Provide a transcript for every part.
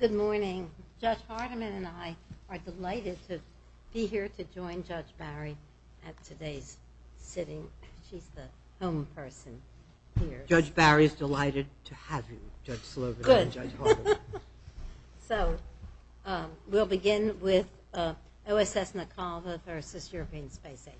Good morning. Judge Hardiman and I are delighted to be here to join Judge Barry at today's sitting. She's the home person here. Judge Barry is delighted to have you, Judge Slovin and Judge Hardiman. So, we'll begin with OSS Nacalva v. European Space Agency.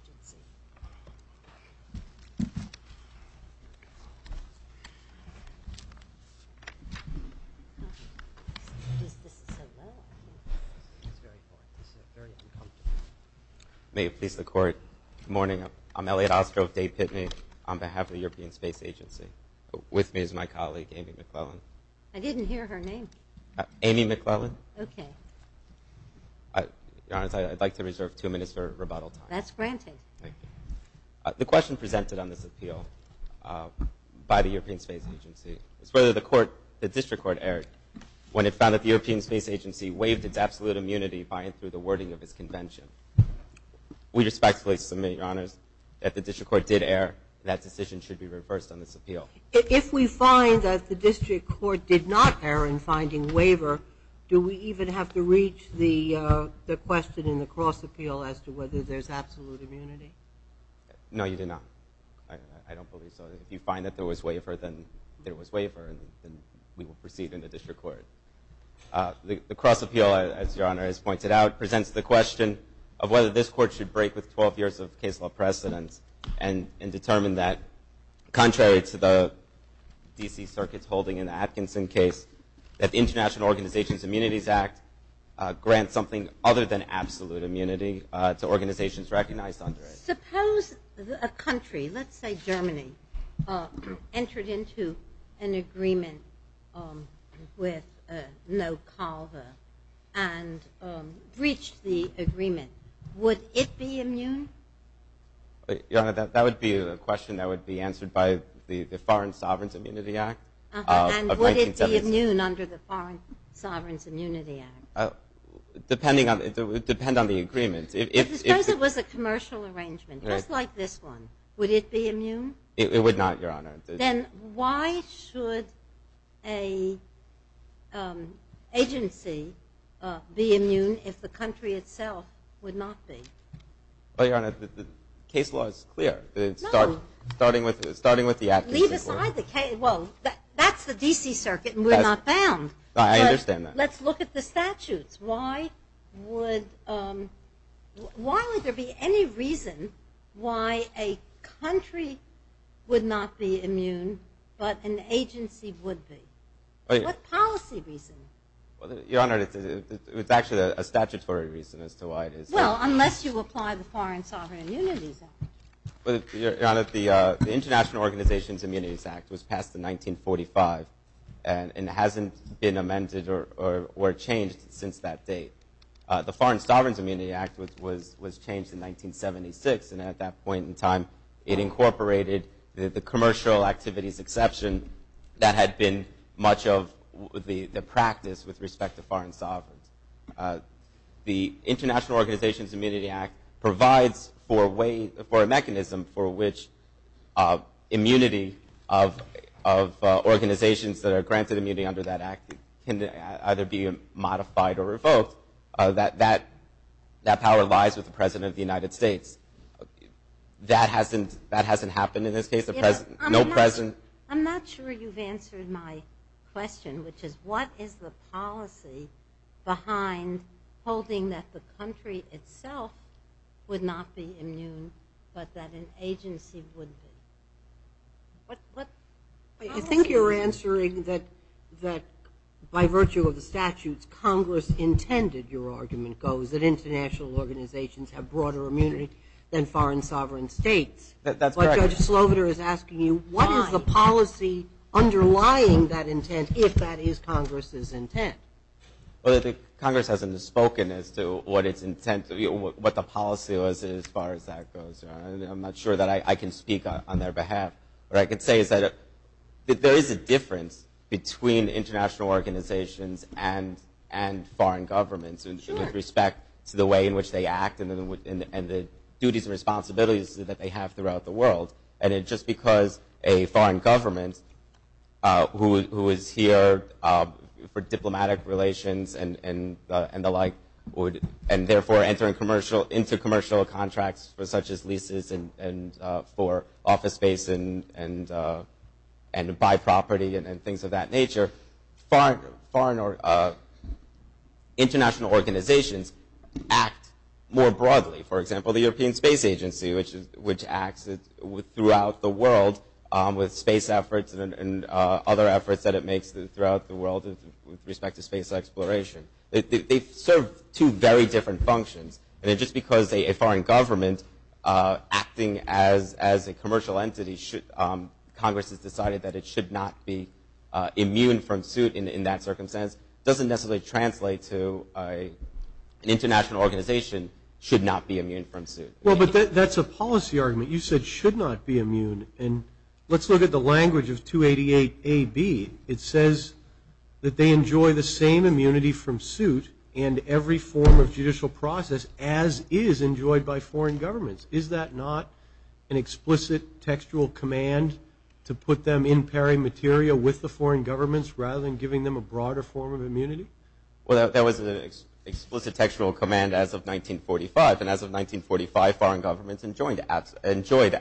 May it please the Court. Good morning. I'm Elliot Ostroff, date Pitney, on behalf of the European Space Agency. With me is my colleague, Amy McClellan. I didn't hear her name. Amy McClellan. Okay. Your Honor, I'd like to reserve two minutes for rebuttal time. That's granted. Thank you. The question presented on this appeal by the European Space Agency is whether the District Court erred when it found that the European Space Agency waived its absolute immunity by and through the wording of its convention. We respectfully submit, Your Honors, that the District Court did err. That decision should be reversed on this appeal. If we find that the District Court did not err in finding waiver, do we even have to reach the question in the cross appeal as to whether there's absolute immunity? No, you did not. I don't believe so. If you find that there was waiver, then there was waiver, and we will proceed in the District Court. The cross appeal, as Your Honor has pointed out, presents the question of whether this Court should break with 12 years of case law precedence and determine that, contrary to the D.C. Circuit's holding in the Atkinson case, that the International Organizations Immunities Act grants something other than absolute immunity to organizations recognized under it. Suppose a country, let's say Germany, entered into an agreement with NoCalva and breached the agreement. Would it be immune? Your Honor, that would be a question that would be answered by the Foreign Sovereign's Immunity Act of 1970. And would it be immune under the Foreign Sovereign's Immunity Act? It would depend on the agreement. Suppose it was a commercial arrangement, just like this one. Would it be immune? It would not, Your Honor. Then why should an agency be immune if the country itself would not be? Your Honor, the case law is clear. Starting with the Atkinson case law. Well, that's the D.C. Circuit, and we're not bound. I understand that. Let's look at the statutes. Why would there be any reason why a country would not be immune but an agency would be? What policy reason? Your Honor, it's actually a statutory reason as to why it is. Well, unless you apply the Foreign Sovereign's Immunity Act. Your Honor, the International Organizations Immunities Act was passed in 1945 and hasn't been amended or changed since that date. The Foreign Sovereign's Immunity Act was changed in 1976, and at that point in time, it incorporated the commercial activities exception that had been much of the practice with respect to foreign sovereigns. The International Organizations Immunity Act provides for a mechanism for which immunity of organizations that are granted immunity under that act can either be modified or revoked. That power lies with the President of the United States. That hasn't happened in this case. I'm not sure you've answered my question, which is what is the policy behind holding that the country itself would not be immune but that an agency would be? I think you're answering that by virtue of the statutes, Congress intended, your argument goes, that international organizations have broader immunity than foreign sovereign states. That's correct. What is the policy underlying that intent, if that is Congress's intent? Congress hasn't spoken as to what the policy was as far as that goes. I'm not sure that I can speak on their behalf. What I can say is that there is a difference between international organizations and foreign governments with respect to the way in which they act and the duties and responsibilities that they have throughout the world. Just because a foreign government who is here for diplomatic relations and the like and therefore entering commercial, into commercial contracts such as leases and for office space and by property and things of that nature, international organizations act more broadly. For example, the European Space Agency, which acts throughout the world with space efforts and other efforts that it makes throughout the world with respect to space exploration. They serve two very different functions. Just because a foreign government acting as a commercial entity, Congress has decided that it should not be immune from suit in that circumstance, doesn't necessarily translate to an international organization should not be immune from suit. That's a policy argument. You said should not be immune. Let's look at the language of 288AB. It says that they enjoy the same immunity from suit and every form of judicial process as is enjoyed by foreign governments. Is that not an explicit textual command to put them in pairing material with the foreign governments rather than giving them a broader form of immunity? Well, that was an explicit textual command as of 1945. And as of 1945, foreign governments enjoyed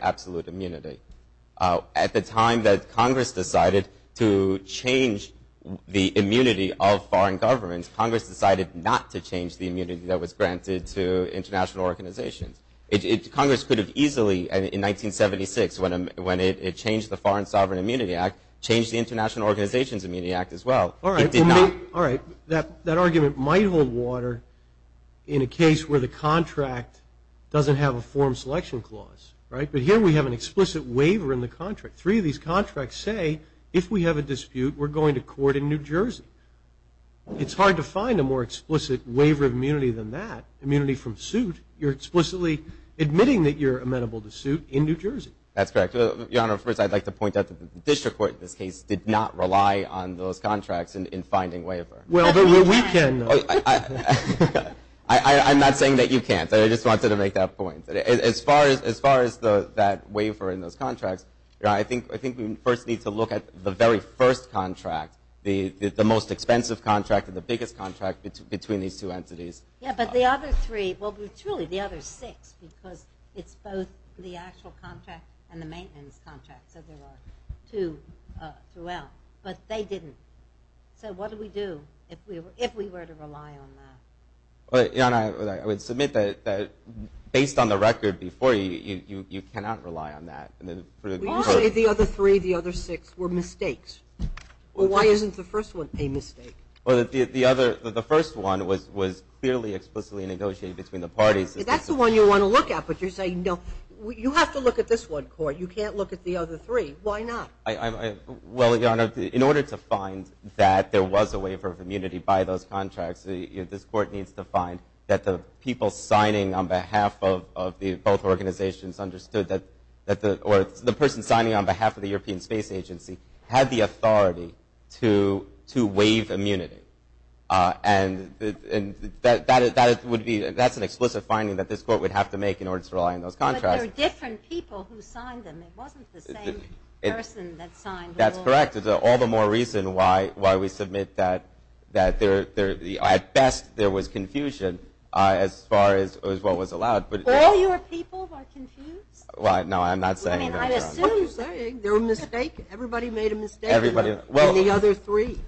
absolute immunity. At the time that Congress decided to change the immunity of foreign governments, Congress decided not to change the immunity that was granted to international organizations. Congress could have easily, in 1976, when it changed the Foreign Sovereign Immunity Act, changed the International Organizations Immunity Act as well. It did not. All right. That argument might hold water in a case where the contract doesn't have a form selection clause, right? But here we have an explicit waiver in the contract. Three of these contracts say if we have a dispute, we're going to court in New Jersey. It's hard to find a more explicit waiver of immunity than that. If you have immunity from suit, you're explicitly admitting that you're amenable to suit in New Jersey. That's correct. Your Honor, first I'd like to point out that the district court in this case did not rely on those contracts in finding waiver. Well, but we can, though. I'm not saying that you can't. I just wanted to make that point. As far as that waiver in those contracts, I think we first need to look at the very first contract, the most expensive contract and the biggest contract between these two entities. Yeah, but the other three, well, truly the other six, because it's both the actual contract and the maintenance contract. So there are two throughout. But they didn't. So what do we do if we were to rely on that? Your Honor, I would submit that based on the record before you, you cannot rely on that. You say the other three, the other six were mistakes. Well, why isn't the first one a mistake? Well, the first one was clearly explicitly negotiated between the parties. That's the one you want to look at, but you're saying, no, you have to look at this one, Court. You can't look at the other three. Why not? Well, Your Honor, in order to find that there was a waiver of immunity by those contracts, this Court needs to find that the people signing on behalf of both organizations understood that or the person signing on behalf of the European Space Agency had the authority to waive immunity. And that's an explicit finding that this Court would have to make in order to rely on those contracts. But there are different people who signed them. It wasn't the same person that signed them all. That's correct. It's all the more reason why we submit that at best there was confusion as far as what was allowed. All your people are confused? Well, no, I'm not saying that, Your Honor. What are you saying? They were mistaken. Everybody made a mistake in the other three.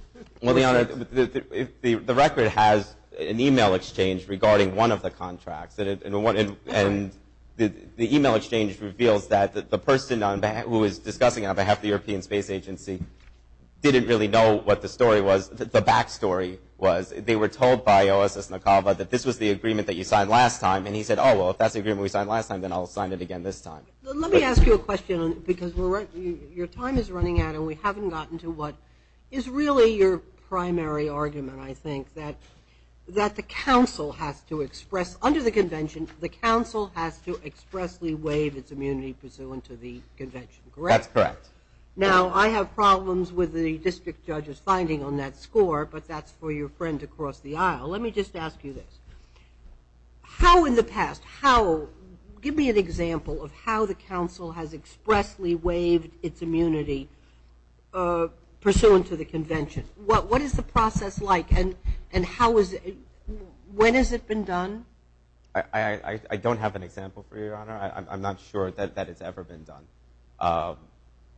Well, Your Honor, the record has an e-mail exchange regarding one of the contracts. And the e-mail exchange reveals that the person who was discussing on behalf of the European Space Agency didn't really know what the story was, the back story was. They were told by OSS Nakaba that this was the agreement that you signed last time. And he said, oh, well, if that's the agreement we signed last time, then I'll sign it again this time. Let me ask you a question because your time is running out and we haven't gotten to what is really your primary argument, I think, that the counsel has to express under the Convention, the counsel has to expressly waive its immunity pursuant to the Convention, correct? That's correct. Now, I have problems with the district judge's finding on that score, but that's for your friend to cross the aisle. Let me just ask you this. How in the past, how, give me an example of how the counsel has expressly waived its immunity pursuant to the Convention. What is the process like and how is it, when has it been done? I don't have an example for you, Your Honor. I'm not sure that it's ever been done.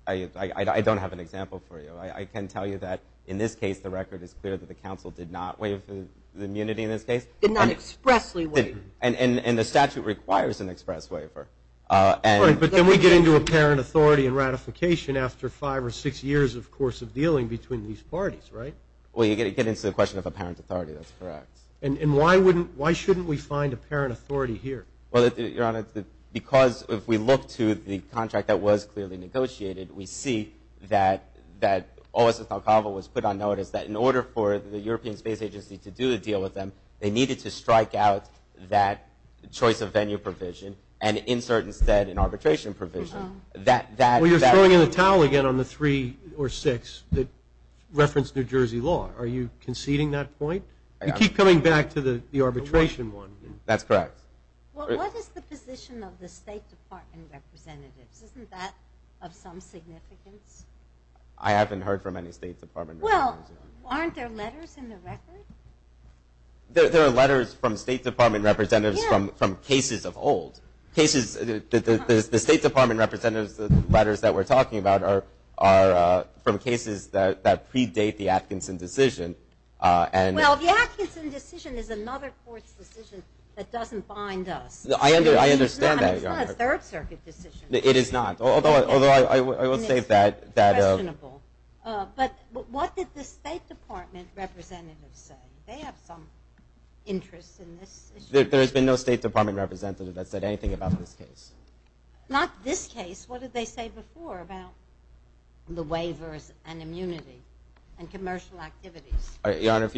I don't have an example for you. I can tell you that in this case the record is clear that the counsel did not waive the immunity in this case. Did not expressly waive it. And the statute requires an express waiver. But then we get into apparent authority and ratification after five or six years, of course, of dealing between these parties, right? Well, you get into the question of apparent authority. That's correct. And why shouldn't we find apparent authority here? Well, Your Honor, because if we look to the contract that was clearly negotiated, we see that O.S.S. Talcava was put on notice that in order for the European Space Agency to do a deal with them, they needed to strike out that choice of venue provision and insert instead an arbitration provision. Well, you're throwing in the towel again on the three or six that reference New Jersey law. Are you conceding that point? You keep coming back to the arbitration one. That's correct. Well, what is the position of the State Department representatives? Isn't that of some significance? I haven't heard from any State Department representatives. Well, aren't there letters in the record? There are letters from State Department representatives from cases of old. The State Department representatives' letters that we're talking about are from cases that predate the Atkinson decision. Well, the Atkinson decision is another court's decision that doesn't bind us. I understand that, Your Honor. It's not a Third Circuit decision. It is not, although I will say that. It's questionable. But what did the State Department representatives say? They have some interest in this issue. There has been no State Department representative that said anything about this case. Not this case. What did they say before about the waivers and immunity and commercial activities? Your Honor,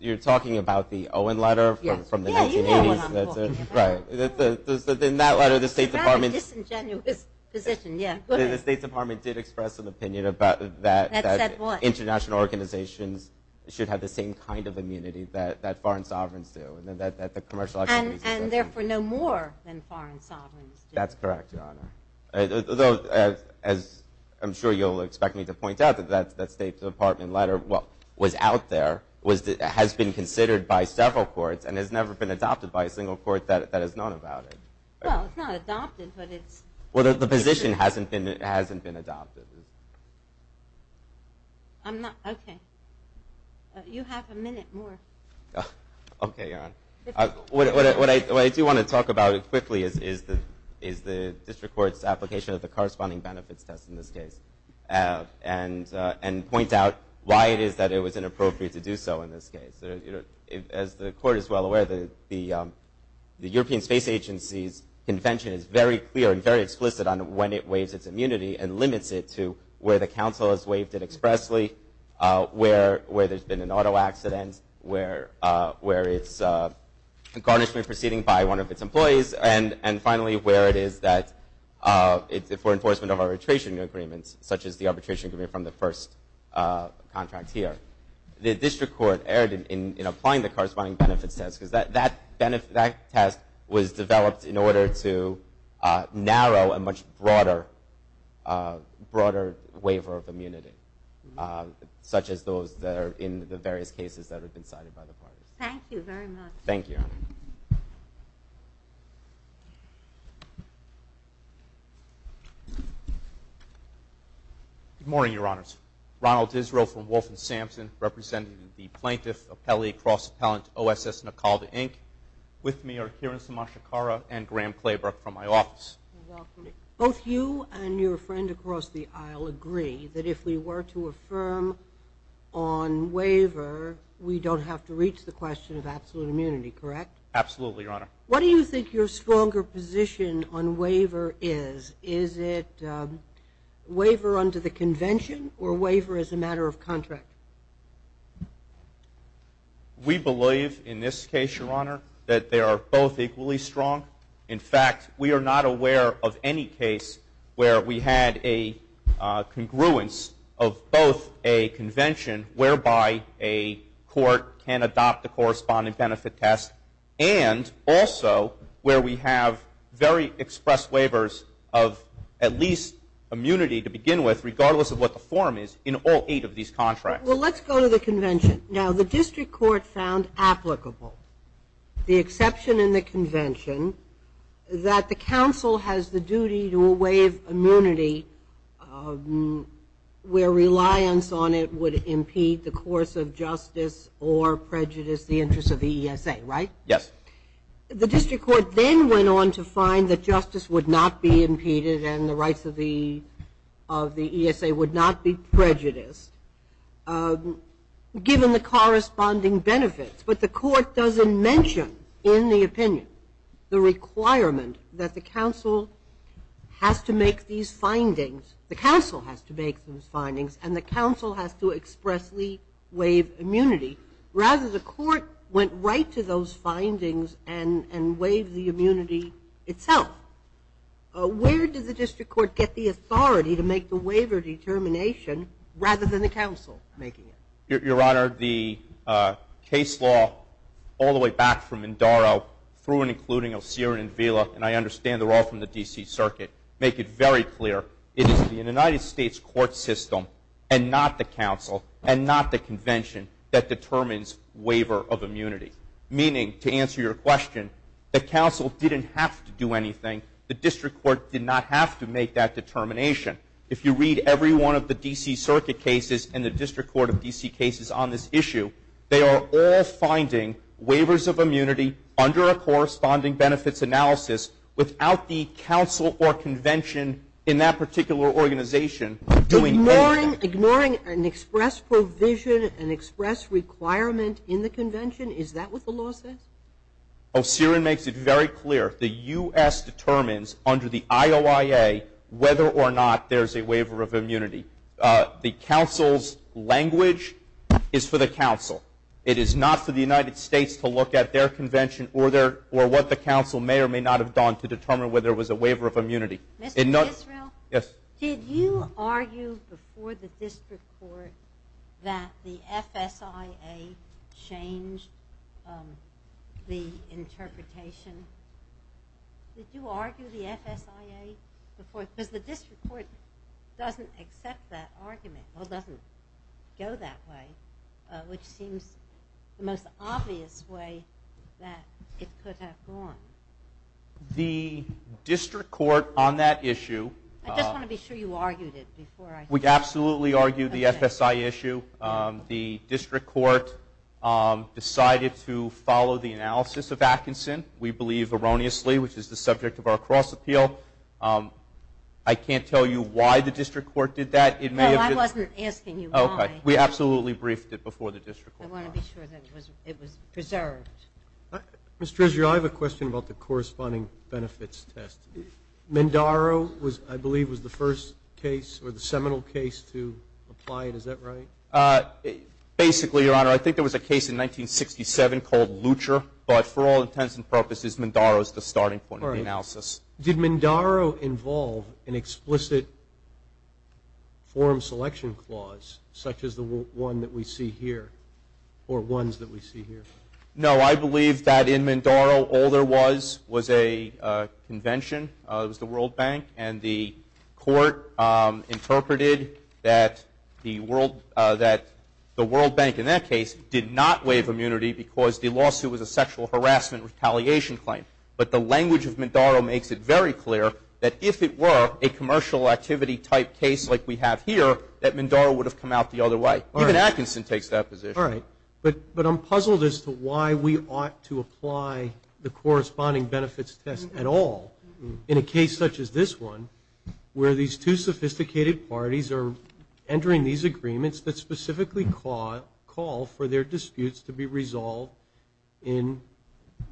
you're talking about the Owen letter from the 1980s. Yeah, you know what I'm talking about. Right. In that letter, the State Department— It's a very disingenuous position, yeah. The State Department did express an opinion about that international organizations should have the same kind of immunity that foreign sovereigns do, and that the commercial activities— And therefore, no more than foreign sovereigns do. That's correct, Your Honor. Though, as I'm sure you'll expect me to point out, that State Department letter was out there, has been considered by several courts, and has never been adopted by a single court that has known about it. Well, it's not adopted, but it's— Well, the position hasn't been adopted. I'm not—okay. You have a minute more. Okay, Your Honor. What I do want to talk about quickly is the district court's application of the corresponding benefits test in this case, and point out why it is that it was inappropriate to do so in this case. As the court is well aware, the European Space Agency's convention is very clear and very explicit on when it waives its immunity and limits it to where the council has waived it expressly, where there's been an auto accident, where it's a garnishment proceeding by one of its employees, and finally, where it is that it's for enforcement of arbitration agreements, such as the arbitration agreement from the first contract here. The district court erred in applying the corresponding benefits test, because that test was developed in order to narrow a much broader waiver of immunity, such as those that are in the various cases that have been cited by the parties. Thank you very much. Thank you, Your Honor. Good morning, Your Honors. Ronald Disrill from Wolf and Sampson, representing the plaintiff, appellee, cross-appellant, O.S.S. Nakalda, Inc. With me are Kiran Samashikara and Graham Claybrook from my office. Good afternoon. Both you and your friend across the aisle agree that if we were to affirm on waiver, we don't have to reach the question of absolute immunity, correct? Absolutely, Your Honor. What do you think your stronger position on waiver is? Is it waiver under the convention or waiver as a matter of contract? We believe in this case, Your Honor, that they are both equally strong. In fact, we are not aware of any case where we had a congruence of both a convention, whereby a court can adopt the corresponding benefit test, and also where we have very expressed waivers of at least immunity to begin with, regardless of what the form is, in all eight of these contracts. Well, let's go to the convention. Now, the district court found applicable, the exception in the convention, that the counsel has the duty to waive immunity where reliance on it would impede the course of justice or prejudice the interests of the ESA, right? Yes. The district court then went on to find that justice would not be impeded and the rights of the ESA would not be prejudiced, given the corresponding benefits. But the court doesn't mention in the opinion the requirement that the counsel has to make these findings, and the counsel has to expressly waive immunity. Rather, the court went right to those findings and waived the immunity itself. Where did the district court get the authority to make the waiver determination, rather than the counsel making it? Your Honor, the case law all the way back from Indaro through and including Osiris and Vila, and I understand they're all from the D.C. Circuit, make it very clear. It is the United States court system and not the counsel and not the convention that determines waiver of immunity. Meaning, to answer your question, the counsel didn't have to do anything. The district court did not have to make that determination. If you read every one of the D.C. Circuit cases and the district court of D.C. cases on this issue, they are all finding waivers of immunity under a corresponding benefits analysis without the counsel or convention in that particular organization doing anything. Ignoring an express provision, an express requirement in the convention, is that what the law says? Osiris makes it very clear. The U.S. determines under the IOIA whether or not there's a waiver of immunity. The counsel's language is for the counsel. It is not for the United States to look at their convention or what the counsel may or may not have done to determine whether it was a waiver of immunity. Mr. Israel? Yes. Did you argue before the district court that the FSIA changed the interpretation? Did you argue the FSIA before? Because the district court doesn't accept that argument, or doesn't go that way, which seems the most obvious way that it could have gone. The district court on that issue- I just want to be sure you argued it before I- We absolutely argued the FSIA issue. The district court decided to follow the analysis of Atkinson, we believe erroneously, which is the subject of our cross-appeal. I can't tell you why the district court did that. No, I wasn't asking you why. We absolutely briefed it before the district court. I want to be sure that it was preserved. Mr. Israel, I have a question about the corresponding benefits test. Mindaro, I believe, was the first case or the seminal case to apply it. Is that right? Basically, Your Honor, I think there was a case in 1967 called Lutcher, but for all intents and purposes, Mindaro is the starting point of the analysis. Did Mindaro involve an explicit form selection clause such as the one that we see here or ones that we see here? No, I believe that in Mindaro all there was was a convention. It was the World Bank, and the court interpreted that the World Bank, in that case, did not waive immunity because the lawsuit was a sexual harassment retaliation claim. But the language of Mindaro makes it very clear that if it were a commercial activity-type case like we have here, that Mindaro would have come out the other way. Even Atkinson takes that position. All right, but I'm puzzled as to why we ought to apply the corresponding benefits test at all in a case such as this one where these two sophisticated parties are entering these agreements that specifically call for their disputes to be resolved in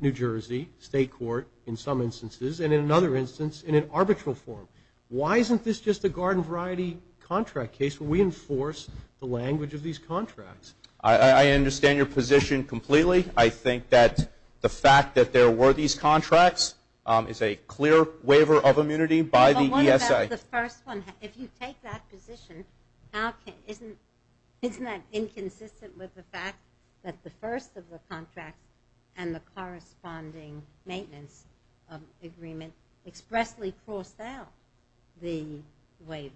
New Jersey State Court in some instances and in another instance in an arbitral form. Why isn't this just a garden variety contract case where we enforce the language of these contracts? I understand your position completely. I think that the fact that there were these contracts is a clear waiver of immunity by the ESA. If you take that position, isn't that inconsistent with the fact that the first of the contracts and the corresponding maintenance agreement expressly forced out the waiver?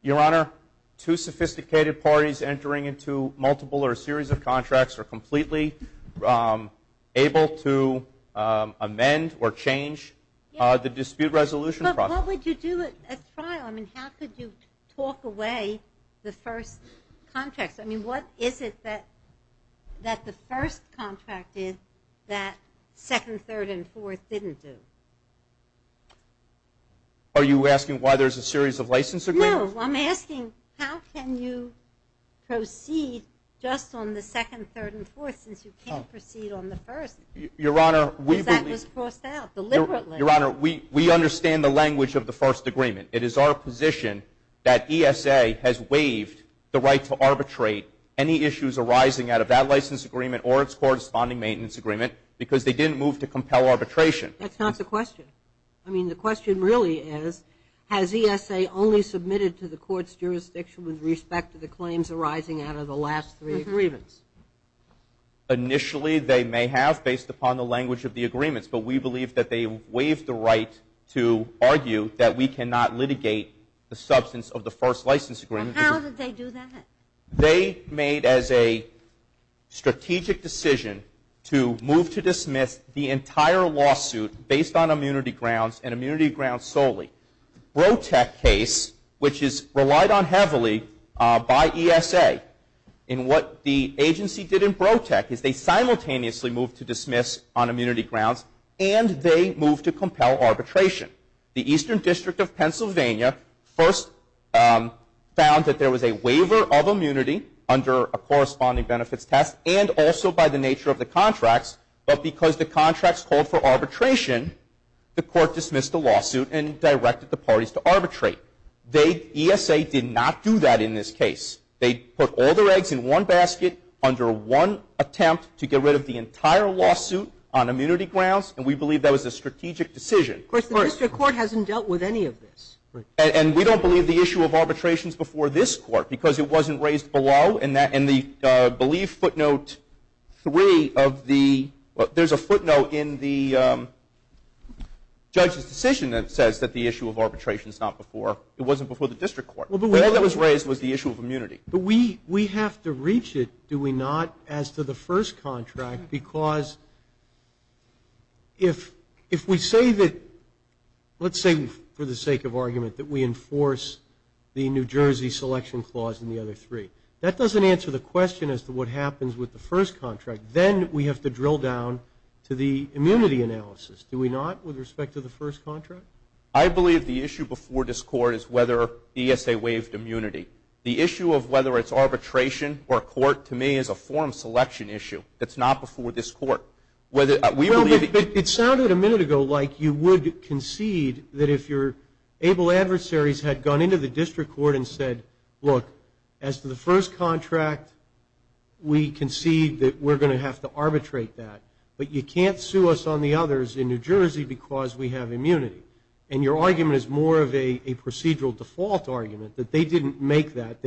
Your Honor, two sophisticated parties entering into multiple or a series of contracts are completely able to amend or change the dispute resolution process. But what would you do at trial? I mean, how could you talk away the first contract? I mean, what is it that the first contract did that second, third, and fourth didn't do? Are you asking why there's a series of license agreements? No, I'm asking how can you proceed just on the second, third, and fourth since you can't proceed on the first? Because that was forced out deliberately. Your Honor, we understand the language of the first agreement. It is our position that ESA has waived the right to arbitrate any issues arising out of that license agreement or its corresponding maintenance agreement because they didn't move to compel arbitration. That's not the question. I mean, the question really is has ESA only submitted to the court's jurisdiction with respect to the claims arising out of the last three agreements? Initially, they may have based upon the language of the agreements, but we believe that they waived the right to argue that we cannot litigate the substance of the first license agreement. How did they do that? They made as a strategic decision to move to dismiss the entire lawsuit based on immunity grounds and immunity grounds solely. Brotec case, which is relied on heavily by ESA, and what the agency did in Brotec is they simultaneously moved to dismiss on immunity grounds and they moved to compel arbitration. The Eastern District of Pennsylvania first found that there was a waiver of immunity under a corresponding benefits test and also by the nature of the contracts, but because the contracts called for arbitration, the court dismissed the lawsuit and directed the parties to arbitrate. ESA did not do that in this case. They put all their eggs in one basket under one attempt to get rid of the entire lawsuit on immunity grounds, and we believe that was a strategic decision. Of course, the district court hasn't dealt with any of this. And we don't believe the issue of arbitration is before this court because it wasn't raised below and the belief footnote three of the – there's a footnote in the judge's decision that says that the issue of arbitration is not before – it wasn't before the district court. All that was raised was the issue of immunity. But we have to reach it, do we not, as to the first contract, because if we say that – let's say for the sake of argument that we enforce the New Jersey Selection Clause and the other three. That doesn't answer the question as to what happens with the first contract. Then we have to drill down to the immunity analysis, do we not, with respect to the first contract? I believe the issue before this court is whether ESA waived immunity. The issue of whether it's arbitration or court, to me, is a form selection issue. That's not before this court. It sounded a minute ago like you would concede that if your able adversaries had gone into the district court and said, look, as to the first contract, we concede that we're going to have to arbitrate that. But you can't sue us on the others in New Jersey because we have immunity. And your argument is more of a procedural default argument that they didn't make that.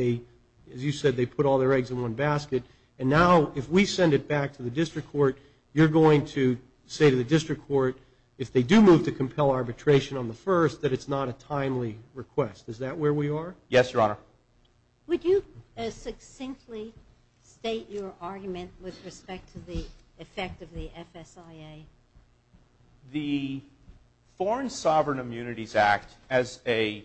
As you said, they put all their eggs in one basket. And now if we send it back to the district court, you're going to say to the district court, if they do move to compel arbitration on the first, that it's not a timely request. Is that where we are? Yes, Your Honor. Would you succinctly state your argument with respect to the effect of the FSIA? The Foreign Sovereign Immunities Act, as a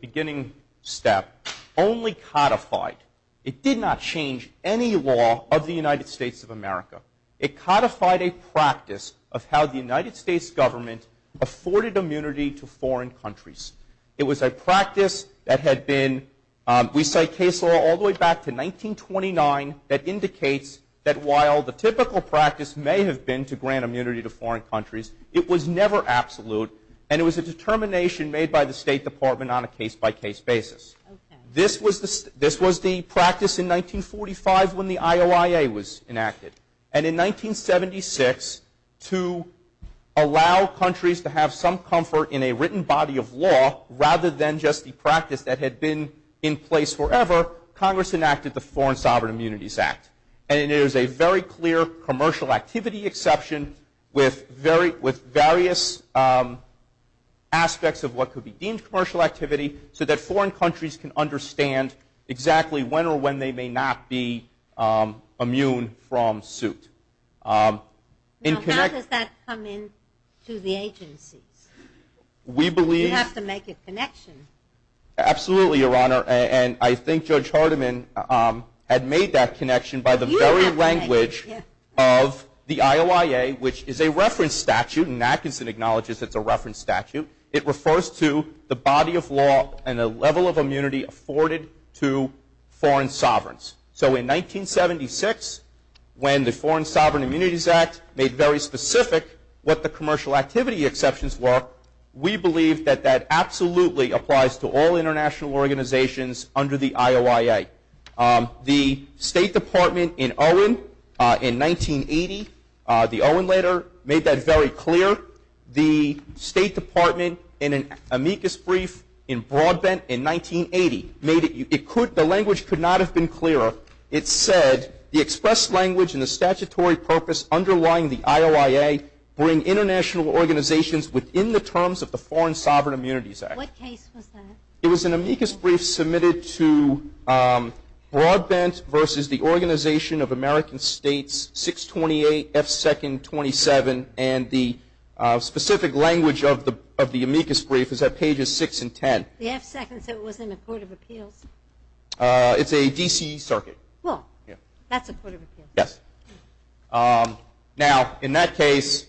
beginning step, only codified. It did not change any law of the United States of America. It codified a practice of how the United States government afforded immunity to foreign countries. It was a practice that had been, we cite case law all the way back to 1929, that indicates that while the typical practice may have been to grant immunity to foreign countries, it was never absolute. And it was a determination made by the State Department on a case-by-case basis. This was the practice in 1945 when the IOIA was enacted. And in 1976, to allow countries to have some comfort in a written body of law, rather than just the practice that had been in place forever, Congress enacted the Foreign Sovereign Immunities Act. And it is a very clear commercial activity exception with various aspects of what could be deemed a commercial activity so that foreign countries can understand exactly when or when they may not be immune from suit. Now, how does that come in to the agencies? You have to make a connection. Absolutely, Your Honor. And I think Judge Hardiman had made that connection by the very language of the IOIA, which is a reference statute, and Atkinson acknowledges it's a reference statute. It refers to the body of law and the level of immunity afforded to foreign sovereigns. So in 1976, when the Foreign Sovereign Immunities Act made very specific what the commercial activity exceptions were, we believe that that absolutely applies to all international organizations under the IOIA. The State Department in Owen in 1980, the Owen letter, made that very clear. The State Department in an amicus brief in Broadbent in 1980, the language could not have been clearer. It said, the expressed language and the statutory purpose underlying the IOIA bring international organizations within the terms of the Foreign Sovereign Immunities Act. What case was that? It was an amicus brief submitted to Broadbent versus the Organization of American States, 628 F. And the specific language of the amicus brief is at pages 6 and 10. The F second said it was in the Court of Appeals. It's a D.C. circuit. Well, that's a Court of Appeals. Yes. Now, in that case,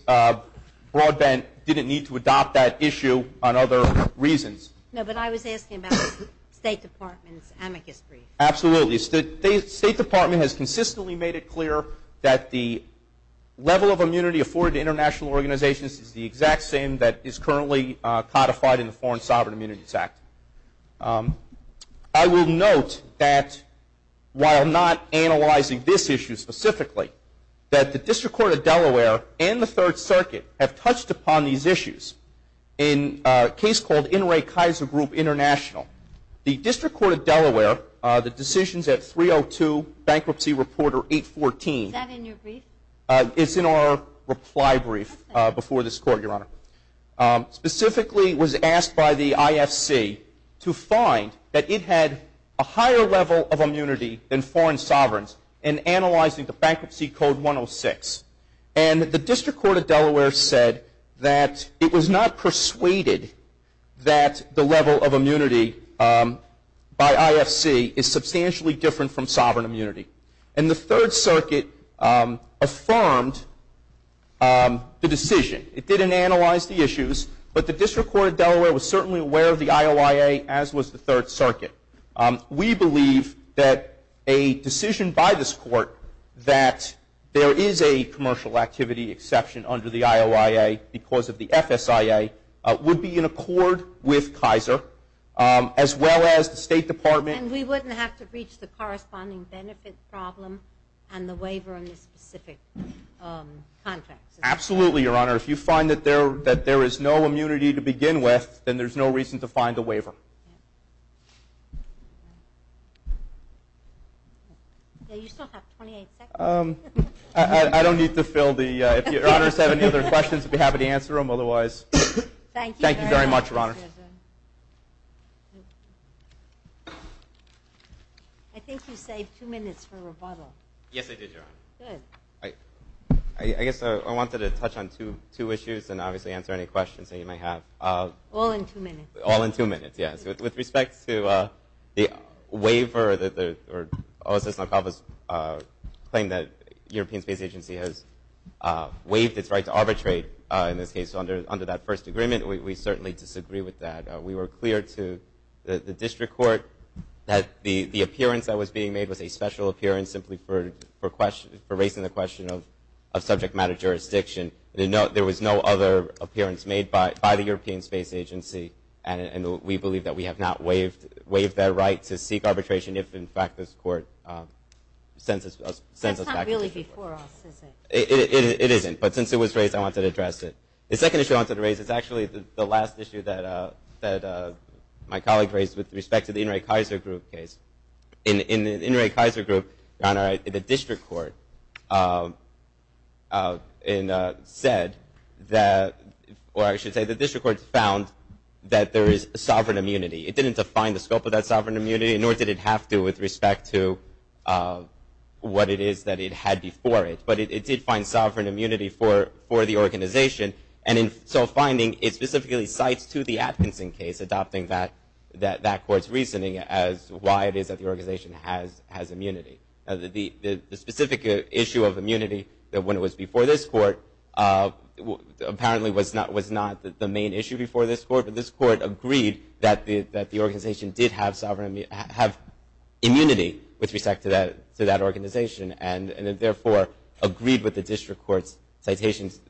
Broadbent didn't need to adopt that issue on other reasons. No, but I was asking about the State Department's amicus brief. Absolutely. The State Department has consistently made it clear that the level of immunity afforded to international organizations is the exact same that is currently codified in the Foreign Sovereign Immunities Act. I will note that while not analyzing this issue specifically, that the District Court of Delaware and the Third Circuit have touched upon these issues in a case called NRA Kaiser Group International. The District Court of Delaware, the decisions at 302 Bankruptcy Reporter 814. Is that in your brief? It's in our reply brief before this Court, Your Honor. Specifically, it was asked by the IFC to find that it had a higher level of immunity than foreign sovereigns in analyzing the Bankruptcy Code 106. And the District Court of Delaware said that it was not persuaded that the level of immunity by IFC is substantially different from sovereign immunity. And the Third Circuit affirmed the decision. It didn't analyze the issues, but the District Court of Delaware was certainly aware of the IOIA, as was the Third Circuit. We believe that a decision by this Court that there is a commercial activity exception under the IOIA because of the FSIA would be in accord with Kaiser, as well as the State Department. And we wouldn't have to reach the corresponding benefit problem and the waiver in this specific context. Absolutely, Your Honor. If you find that there is no immunity to begin with, then there's no reason to find a waiver. You still have 28 seconds. I don't need to fill the – if Your Honors have any other questions, I'd be happy to answer them. Otherwise, thank you very much, Your Honor. I think you saved two minutes for rebuttal. Yes, I did, Your Honor. Good. I guess I wanted to touch on two issues and obviously answer any questions that you might have. All in two minutes. All in two minutes, yes. With respect to the waiver or OSS's claim that the European Space Agency has waived its right to arbitrate, in this case under that first agreement, we certainly disagree with that. We were clear to the District Court that the appearance that was being made was a special appearance simply for raising the question of subject matter jurisdiction. There was no other appearance made by the European Space Agency, and we believe that we have not waived that right to seek arbitration if, in fact, this court sends us back. That's not really before us, is it? It isn't. But since it was raised, I wanted to address it. The second issue I wanted to raise is actually the last issue that my colleague raised with respect to the In re Kaiser Group, Your Honor, the District Court said that – or I should say the District Court found that there is sovereign immunity. It didn't define the scope of that sovereign immunity, nor did it have to with respect to what it is that it had before it. But it did find sovereign immunity for the organization, and in so finding it specifically cites to the Atkinson case, that court's reasoning as to why it is that the organization has immunity. The specific issue of immunity when it was before this court apparently was not the main issue before this court, but this court agreed that the organization did have immunity with respect to that organization, and it therefore agreed with the District Court's citations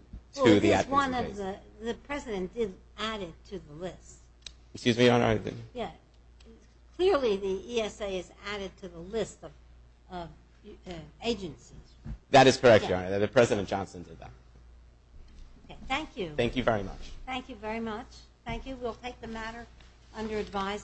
to the Atkinson case. The President did add it to the list. Excuse me, Your Honor. Clearly the ESA has added to the list of agencies. That is correct, Your Honor. The President Johnson did that. Thank you. Thank you very much. Thank you very much. Thank you. We'll take the matter under advisory.